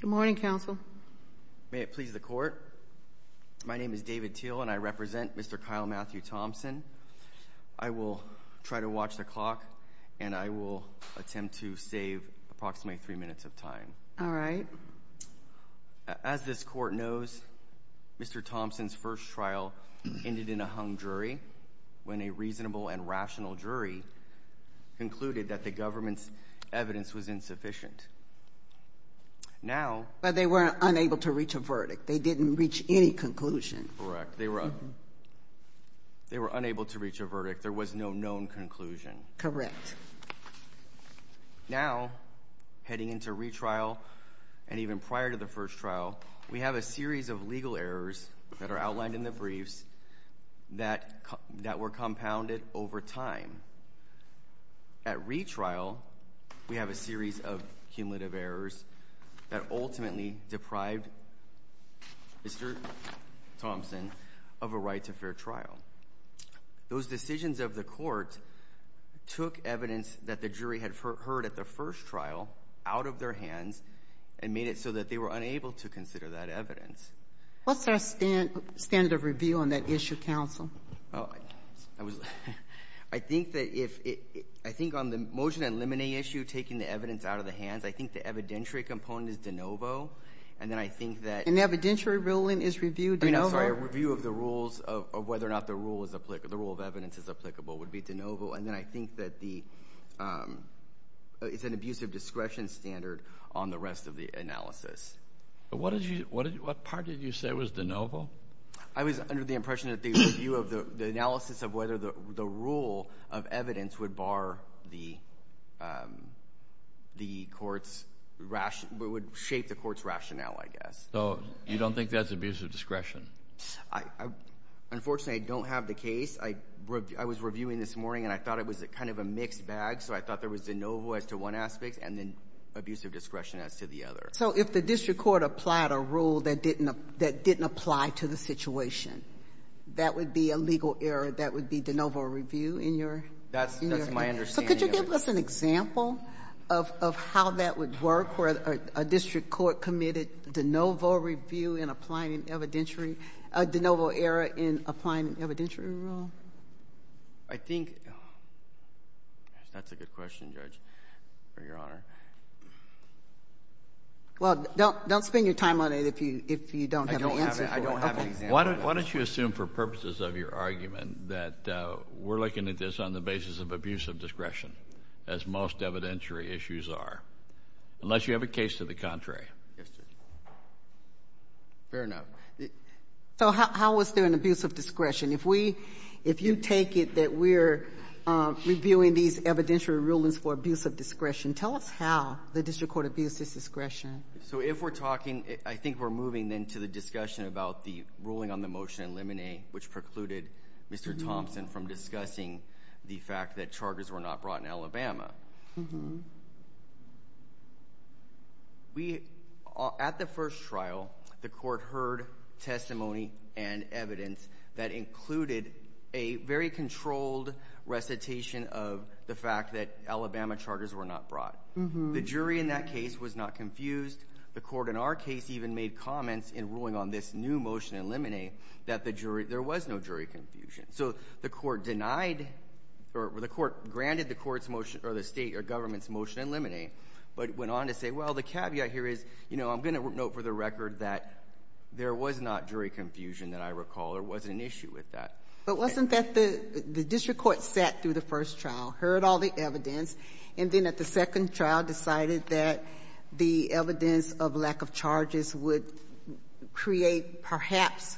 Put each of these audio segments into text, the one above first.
Good morning counsel. May it please the court. My name is David Teel and I represent Mr. Kyle Matthew Thompson. I will try to watch the clock and I will attempt to save approximately three minutes of time. All right. As this court knows, Mr. Thompson's first trial ended in a hung jury when a reasonable and rational jury concluded that the government's evidence was insufficient. Now... But they were unable to reach a verdict. They didn't reach any conclusion. Correct. They were unable to reach a verdict. There was no known conclusion. Correct. Now, heading into retrial and even prior to the first trial, we have a series of legal errors that are outlined in the briefs that were compounded over time. At retrial, we have a series of cumulative errors that ultimately deprived Mr. Thompson of a right to fair trial. Those decisions of the court took evidence that the jury had heard at the first trial out of their hands and made it so that they were unable to consider that evidence. What's our standard of review on that issue, counsel? I think that if it, I think on the motion and limiting issue, taking the evidence out of the hands, I think the evidentiary component is de novo. And then I think that... An evidentiary ruling is reviewed de novo? I'm sorry, a review of the rules of whether or not the rule is applicable, the rule of evidence is applicable, would be de novo. And then I think that the, it's an abuse of discretion standard on the rest of the analysis. But what did you, what part did you say was de novo? I was under the impression that the review of the, the analysis of whether the rule of evidence would bar the court's ration, would shape the court's rationale, I guess. So you don't think that's abuse of discretion? Unfortunately, I don't have the case. I was reviewing this morning and I thought it was kind of a mixed bag, so I thought there was de novo as to one aspect and then abuse of discretion as to the other. So if the district court applied a rule that didn't, that didn't apply to the situation, that would be a legal error, that would be de novo review in your... That's, that's my understanding. So could you give us an example of, of how that would work, where a district court committed de novo review in applying an evidentiary, a de novo error in applying an evidentiary rule? I think, that's a good question, Judge, for your honor. Well, don't, don't spend your time on it if you, if you don't have an answer. I don't have an, I don't have an example. Why don't, why don't you assume for purposes of your argument that we're looking at this on the basis of abuse of discretion, as most evidentiary issues are, unless you have a case to the contrary. Yes, Judge. Fair enough. So how, how was there an abuse of discretion? If we, if you take it that we're reviewing these evidentiary rulings for abuse of discretion, tell us how the district court abused its discretion. So if we're talking, I think we're moving then to the discussion about the ruling on the motion in Lemonet, which precluded Mr. Thompson from discussing the fact that charters were not brought in Alabama. We, at the first trial, the court heard testimony and evidence that included a very controlled recitation of the fact that Alabama charters were not brought. Mm-hm. The jury in that case was not confused. The court in our case even made comments in ruling on this new motion in Lemonet that the jury, there was no jury confusion. So the court denied, or the court granted the court's motion, or the state or government's motion in Lemonet, but went on to say, well, the caveat here is, you know, I'm going to note for the record that there was not jury confusion that I recall, there wasn't an issue with that. But wasn't that the district court sat through the first trial, heard all the evidence, and then at the second trial decided that the evidence of lack of charges would create perhaps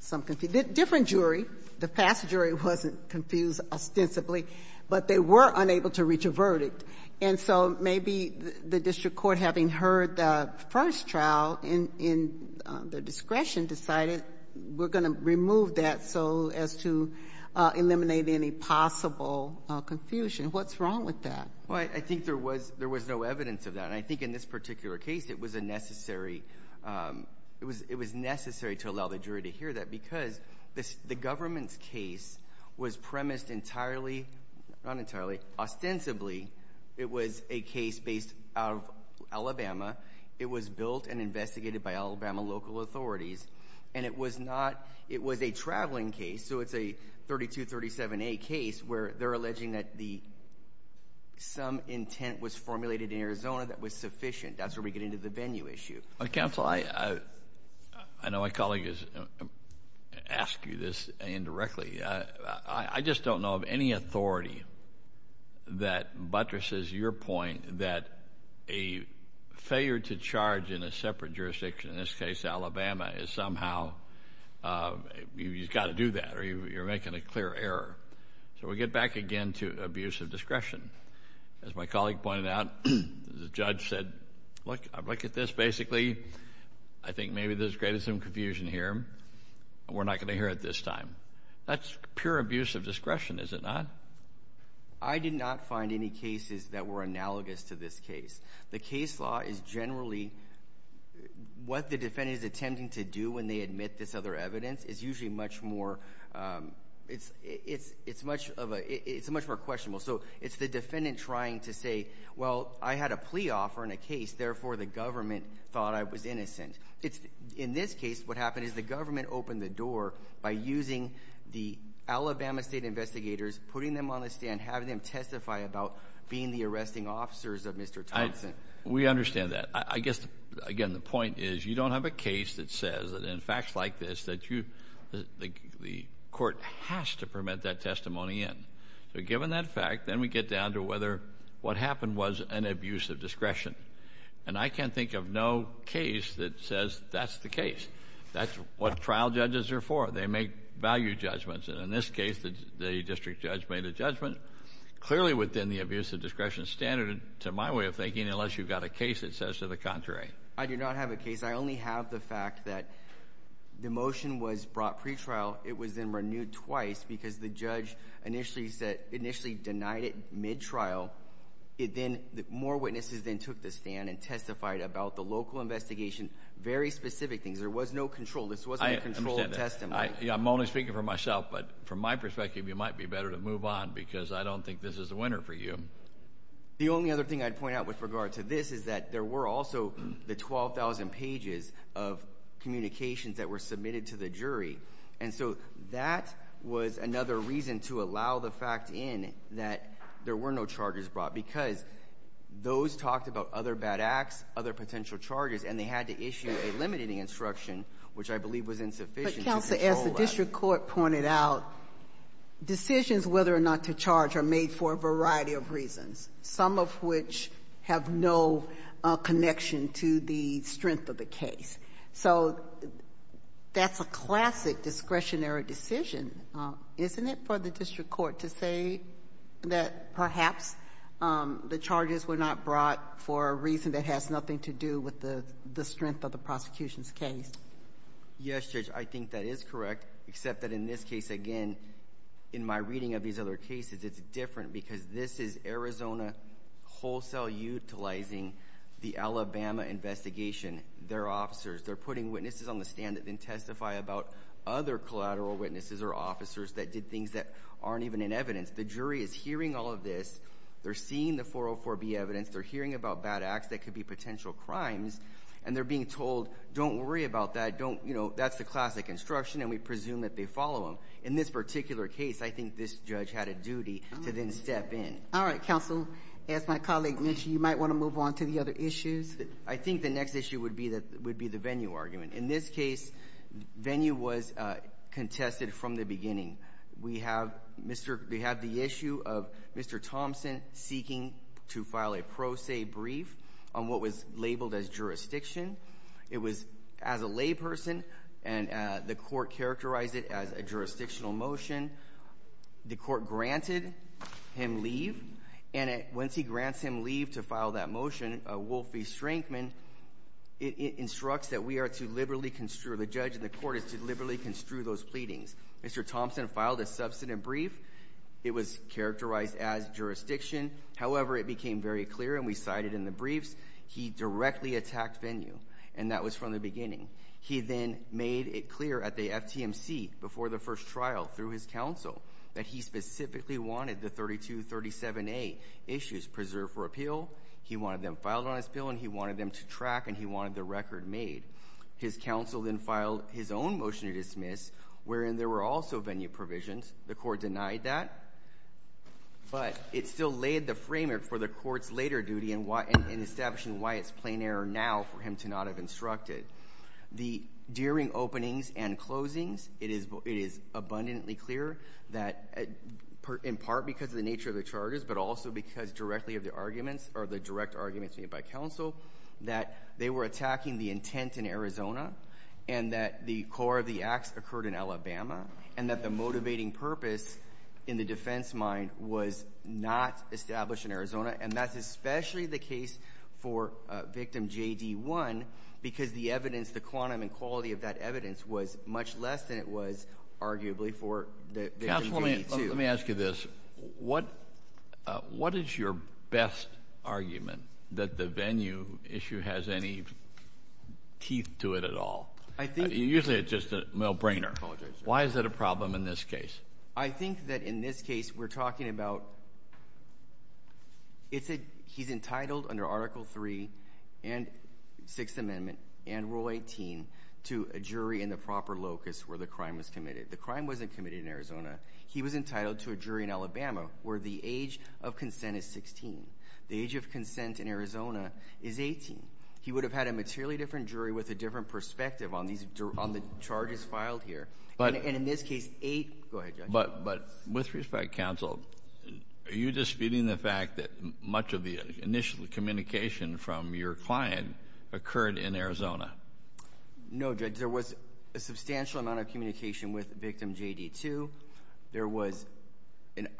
some confusion? Different jury. The past jury wasn't confused ostensibly, but they were unable to reach a verdict. And so maybe the district court, having heard the first trial in the discretion, decided we're going to remove that so as to eliminate any possible confusion. What's wrong with that? Well, I think there was no evidence of that. And I think in this particular case, it was a necessary, it was necessary to allow the jury to hear that because the government's case was premised entirely, not entirely, ostensibly, it was a case based out of Alabama. It was built and investigated by Alabama local authorities. And it was not, it was a traveling case, so it's a 3237A case where they're alleging that the, some intent was formulated in Arizona that was sufficient. That's where we get into the venue issue. Counsel, I, I know my colleague has asked you this indirectly. I just don't know of any authority that buttresses your point that a failure to charge in a separate jurisdiction, in this case Alabama, is somehow, you've got to do that or you're making a clear error. So we get back again to abuse of discretion. As my colleague pointed out, the judge said, look, look at this basically. I think maybe there's created some confusion here. We're not going to hear it this time. That's pure abuse of discretion, is it not? I did not find any cases that were analogous to this case. The case law is generally, what the defendant is attempting to do when they admit this other evidence is usually much more, it's, it's, it's much of a, it's much more questionable. So it's the defendant trying to say, well, I had a plea offer in a case, therefore the government thought I was innocent. It's, in this case, what government opened the door by using the Alabama state investigators, putting them on the stand, having them testify about being the arresting officers of Mr. Thompson. We understand that. I guess, again, the point is you don't have a case that says, in facts like this, that you, the court has to permit that testimony in. So given that fact, then we get down to whether what happened was an abuse of discretion. And I can't think of no case that says that's the case. That's what trial judges are for. They make value judgments. And in this case, the district judge made a judgment clearly within the abuse of discretion standard, to my way of thinking, unless you've got a case that says to the contrary. I do not have a case. I only have the fact that the motion was brought pretrial. It was then renewed twice because the judge initially said, initially denied it mid-trial. It then, more witnesses then took the stand and testified about the local investigation. Very specific things. There was no control. This wasn't a controlled testimony. I'm only speaking for myself, but from my perspective, it might be better to move on, because I don't think this is a winner for you. The only other thing I'd point out with regard to this is that there were also the 12,000 pages of communications that were submitted to the jury. And so that was another reason to allow the fact in that there were no charges brought, because those talked about other bad acts, other potential charges, and they had to issue a limiting instruction, which I believe was insufficient to control that. But, Counsel, as the district court pointed out, decisions whether or not to charge are made for a variety of reasons, some of which have no connection to the strength of the case. So that's a classic discretionary decision, isn't it, for the district court to say that perhaps the charges were not brought for a variety of reasons for a reason that has nothing to do with the strength of the prosecution's case? Yes, Judge, I think that is correct, except that in this case, again, in my reading of these other cases, it's different, because this is Arizona wholesale utilizing the Alabama investigation, their officers. They're putting witnesses on the stand that then testify about other collateral witnesses or officers that did things that aren't even in evidence. The jury is hearing all of this. They're seeing the 404B evidence. They're hearing about bad acts that could be potential crimes, and they're being told, don't worry about that. Don't, you know, that's the classic instruction, and we presume that they follow them. In this particular case, I think this judge had a duty to then step in. All right, Counsel. As my colleague mentioned, you might want to move on to the other issues. I think the next issue would be the venue argument. In this case, venue was contested from the beginning. We have the issue of Mr. Thompson seeking to file a pro se brief on what was labeled as jurisdiction. It was as a layperson, and the court characterized it as a jurisdictional motion. The court granted him leave, and once he grants him leave to file that motion, Wolfie Strinkman instructs that we are to liberally construe, the judge and the court is to liberally construe those pleadings. Mr. Thompson filed a substantive brief. It was characterized as jurisdiction. However, it became very clear, and we cited in the briefs, he directly attacked venue, and that was from the beginning. He then made it clear at the FTMC before the first trial through his counsel that he specifically wanted the 3237A issues preserved for appeal. He wanted them filed on his bill, and he wanted them to track, and he wanted the record made. His counsel then filed his own motion to dismiss, wherein there were also venue provisions. The court denied that, but it still laid the framework for the court's later duty in establishing why it's plain error now for him to not have instructed. During openings and closings, it is abundantly clear that, in part because of the nature of the charges, but also because directly of the arguments or the direct arguments made by counsel, that they were attacking the intent in Arizona and that the core of the acts occurred in Alabama, and that the motivating purpose in the defense mind was not established in Arizona. And that's especially the case for victim JD1, because the evidence, the quantum and quality of that evidence, was much less than it was, arguably, for the victim JD2. Counselor, let me ask you this. What is your best argument that the venue issue has any teeth to it at all? I think... Usually it's just a no-brainer. Why is that a problem in this case? I think that, in this case, we're talking about... It's a... He's entitled, under Article 3 and Sixth Amendment and Rule 18, to a jury in the proper locus where the crime was committed. The crime wasn't committed in Arizona. He was entitled to a jury in Alabama where the age of consent is 16. The age of consent in Arizona is 18. He would have had a materially different jury with a different perspective on the charges filed here. But... And in this case, 8... Go ahead, Judge. But, with respect, Counsel, are you disputing the fact that much of the initial communication from your client occurred in Arizona? No, Judge. There was a substantial amount of communication with victim JD2. There was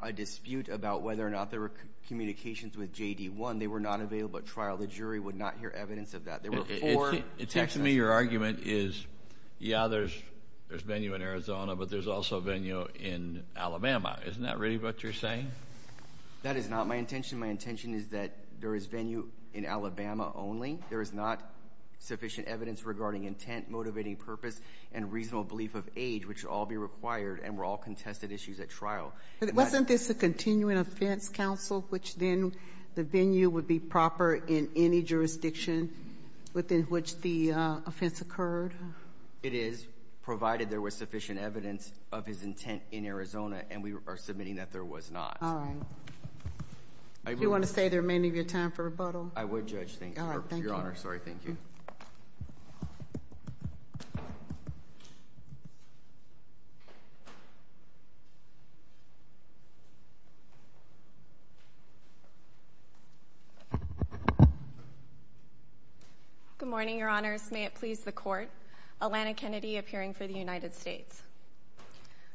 a dispute about whether or not there were communications with JD1. They were not available at trial. The jury would not hear evidence of that. There were four... It seems to me your argument is, yeah, there's venue in Arizona, but there's also venue in Alabama. Isn't that really what you're saying? That is not my intention. My intention is that there is venue in Alabama only. There is not sufficient evidence regarding intent, motivating purpose, and reasonable belief of age, which would all be required, and were all contested issues at trial. But wasn't this a continuing offense, Counsel, which then the venue would be proper in any jurisdiction within which the offense occurred? It is, provided there was sufficient evidence of his intent in Arizona, and we are submitting that there was not. All right. Do you want to say there may need to be a time for rebuttal? I would, Judge, thank you. Your Honor, sorry. Thank you. Good morning, Your Honors. May it please the Court. Alana Kennedy, appearing for the United States.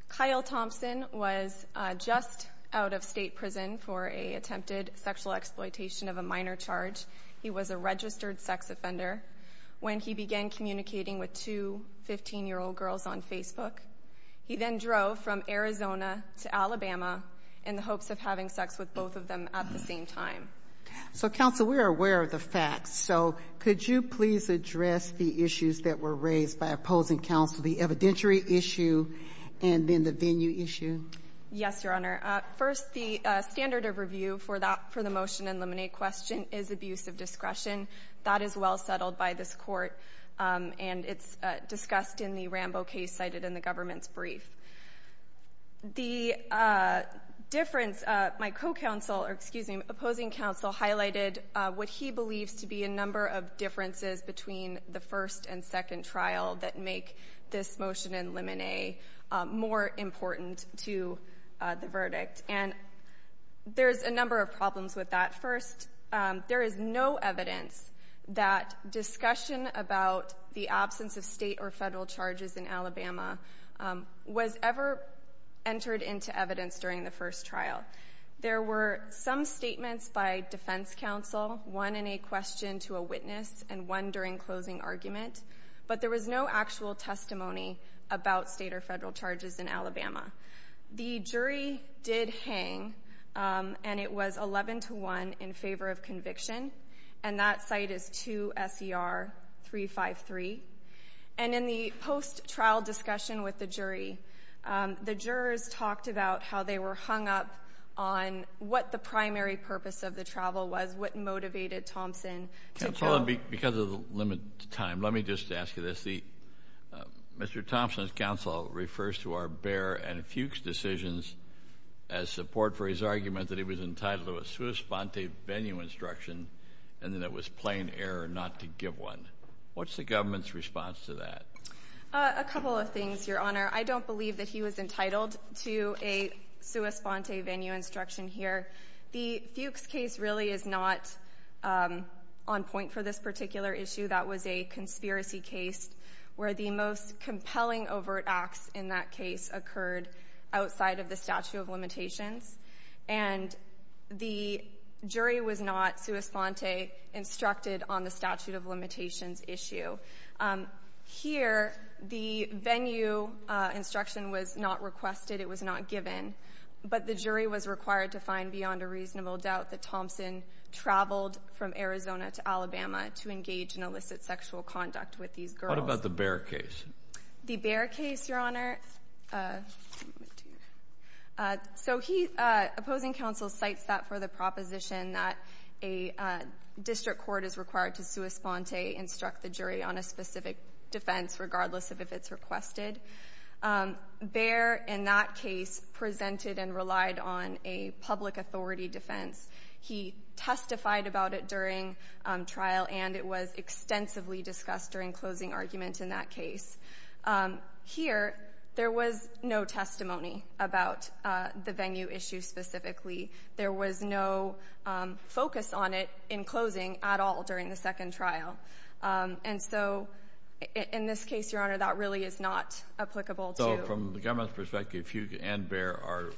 Kyle Thompson was just out of state prison for an attempted sexual exploitation of a minor charge. He was a registered sex offender when he began communicating with two 15-year-old girls on Facebook. He then drove from Arizona to Alabama in the hopes of having sex with both of them at the same time. So, Counsel, we are aware of the facts. So could you please address the issues that were raised by opposing counsel, the evidentiary issue and then the venue issue? Yes, Your Honor. First, the standard of review for the motion and laminate question is abuse of discretion. That is well settled by this Court, and it's discussed in the Rambo case cited in the government's brief. The difference, my co-counsel, or, excuse me, opposing counsel highlighted what he believes to be a number of differences between the first and second trial that make this motion and laminate more important to the verdict. And there's a number of problems with that. First, there is no evidence that discussion about the absence of state or federal charges in Alabama was ever entered into evidence during the first trial. There were some statements by defense counsel, one in a question to a witness and one during closing argument, but there was no actual testimony about state or federal charges in Alabama. The jury did hang, and it was 11 to 1 in favor of conviction, and that site is 2 S.E.R. 353. And in the post-trial discussion with the jury, the jurors talked about how they were hung up on what the primary purpose of the travel was, what motivated Thompson to kill. Counsel, because of the limited time, let me just ask you this. Mr. Thompson's counsel refers to our Baer and Fuchs decisions as support for his argument that he was entitled to a sua sponte venue instruction and that it was plain error not to give one. What's the government's response to that? A couple of things, Your Honor. I don't believe that he was entitled to a sua sponte venue instruction here. The Fuchs case really is not on point for this particular issue. That was a conspiracy case where the most compelling overt acts in that case occurred outside of the statute of limitations, and the jury was not sua sponte instructed on the statute of limitations issue. Here, the venue instruction was not requested. It was not given, but the jury was required to find beyond a reasonable doubt that Thompson traveled from Arizona to Alabama to engage in illicit sexual conduct with these girls. What about the Baer case? The Baer case, Your Honor, opposing counsel cites that for the proposition that a district court is required to sua sponte instruct the jury on a specific defense, regardless of if it's requested. Baer, in that case, presented and relied on a public authority defense. He testified about it during trial, and it was extensively discussed during closing argument in that case. Here, there was no testimony about the venue issue specifically. There was no focus on it in closing at all during the second trial. And so in this case, Your Honor, that really is not applicable to So from the government's perspective, Fugue and Baer are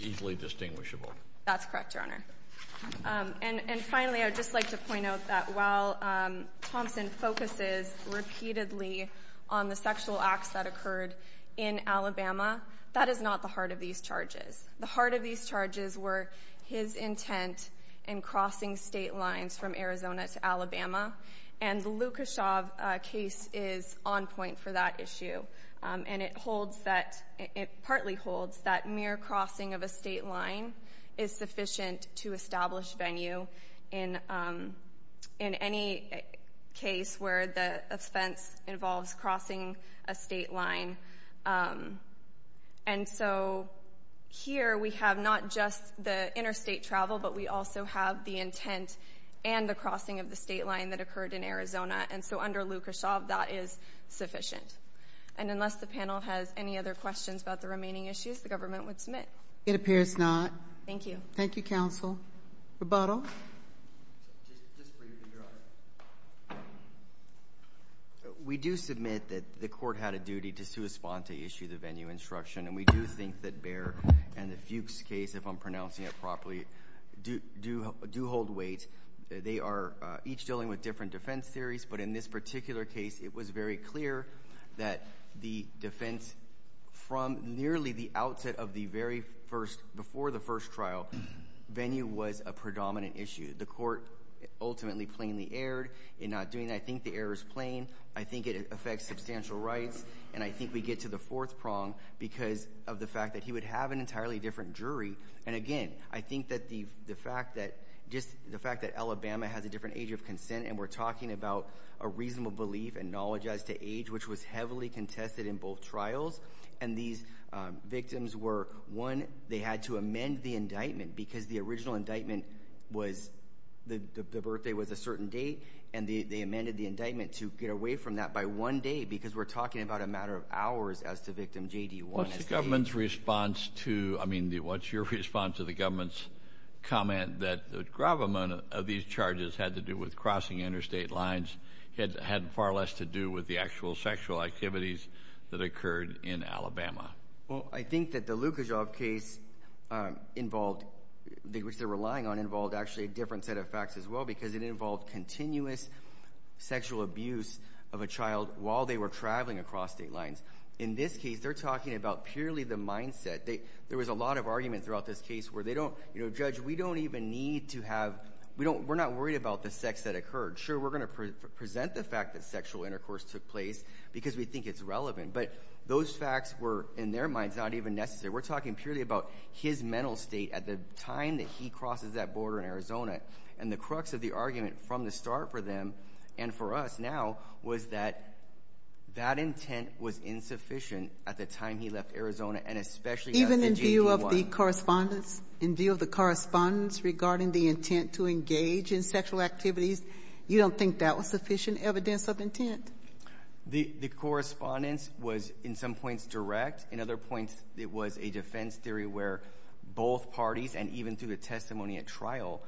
easily distinguishable. That's correct, Your Honor. And finally, I'd just like to point out that while Thompson focuses repeatedly on the sexual acts that occurred in Alabama, that is not the heart of these charges. The heart of these charges were his intent in crossing state lines from Arizona to Alabama, and the Lukashov case is on point for that issue. And it holds that, it partly holds that mere crossing of a state line is sufficient to establish venue in any case where the offense involves crossing a state line. And so here, we have not just the interstate travel, but we also have the intent and the crossing of the state line that occurred in Arizona. And so under Lukashov, that is sufficient. And unless the panel has any other questions about the remaining issues, the government would submit. It appears not. Thank you. Thank you, counsel. Rebuttal. Just briefly, Your Honor. We do submit that the court had a duty to correspond to issue the venue instruction, and we do think that Baer and the Fugue's case, if I'm pronouncing it properly, do hold weight. They are each dealing with different defense theories, but in this particular case, it was very clear that the defense from nearly the outset of the very first, before the first trial, venue was a predominant issue. The court ultimately plainly erred in not doing that. I think the error is plain. I think it affects substantial rights. And I think we get to the fourth prong because of the fact that he would have an entirely different jury. And, again, I think that the fact that just the fact that Alabama has a different age of consent and we're talking about a reasonable belief and knowledge as to age, which was heavily contested in both trials, and these victims were, one, they had to amend the indictment because the original indictment was, the birthday was a certain date, and they amended the indictment to get away from that by one day because we're talking about a matter of hours as to victim J.D. 1. What's the government's response to, I mean, what's your response to the government's comment that the gravamen of these charges had to do with crossing interstate lines, had far less to do with the actual sexual activities that occurred in Alabama? Well, I think that the Lukachoff case involved, which they're relying on, involved actually a different set of facts as well because it involved continuous sexual abuse of a child while they were traveling across state lines. In this case, they're talking about purely the mindset. There was a lot of argument throughout this case where they don't, you know, Judge, we don't even need to have, we're not worried about the sex that occurred. Sure, we're going to present the fact that sexual intercourse took place because we think it's relevant, but those facts were, in their minds, not even necessary. We're talking purely about his mental state at the time that he crosses that border in Arizona, and the crux of the argument from the start for them and for us now was that that intent was insufficient at the time he left Arizona and especially at the J.D. 1. In view of the correspondence regarding the intent to engage in sexual activities, you don't think that was sufficient evidence of intent? The correspondence was, in some points, direct. In other points, it was a defense theory where both parties, and even through the testimony at trial,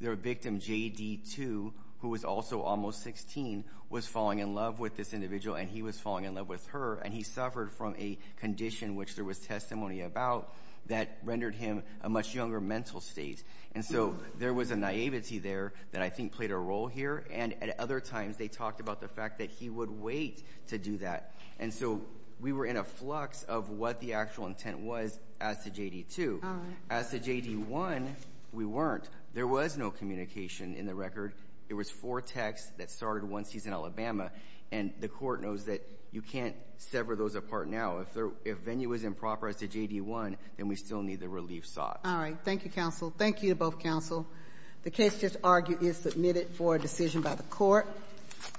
their victim, J.D. 2, who was also almost 16, was falling in love with this individual, and he was falling in love with her, and he suffered from a condition, which there was testimony about, that rendered him a much younger mental state. And so there was a naivety there that I think played a role here, and at other times they talked about the fact that he would wait to do that. And so we were in a flux of what the actual intent was as to J.D. 2. As to J.D. 1, we weren't. There was no communication in the record. There was four texts that started once he's in Alabama, and the court knows that you can't sever those apart now. If venue is improper as to J.D. 1, then we still need the relief sought. All right. Thank you, counsel. Thank you to both counsel. The case just argued is submitted for a decision by the court.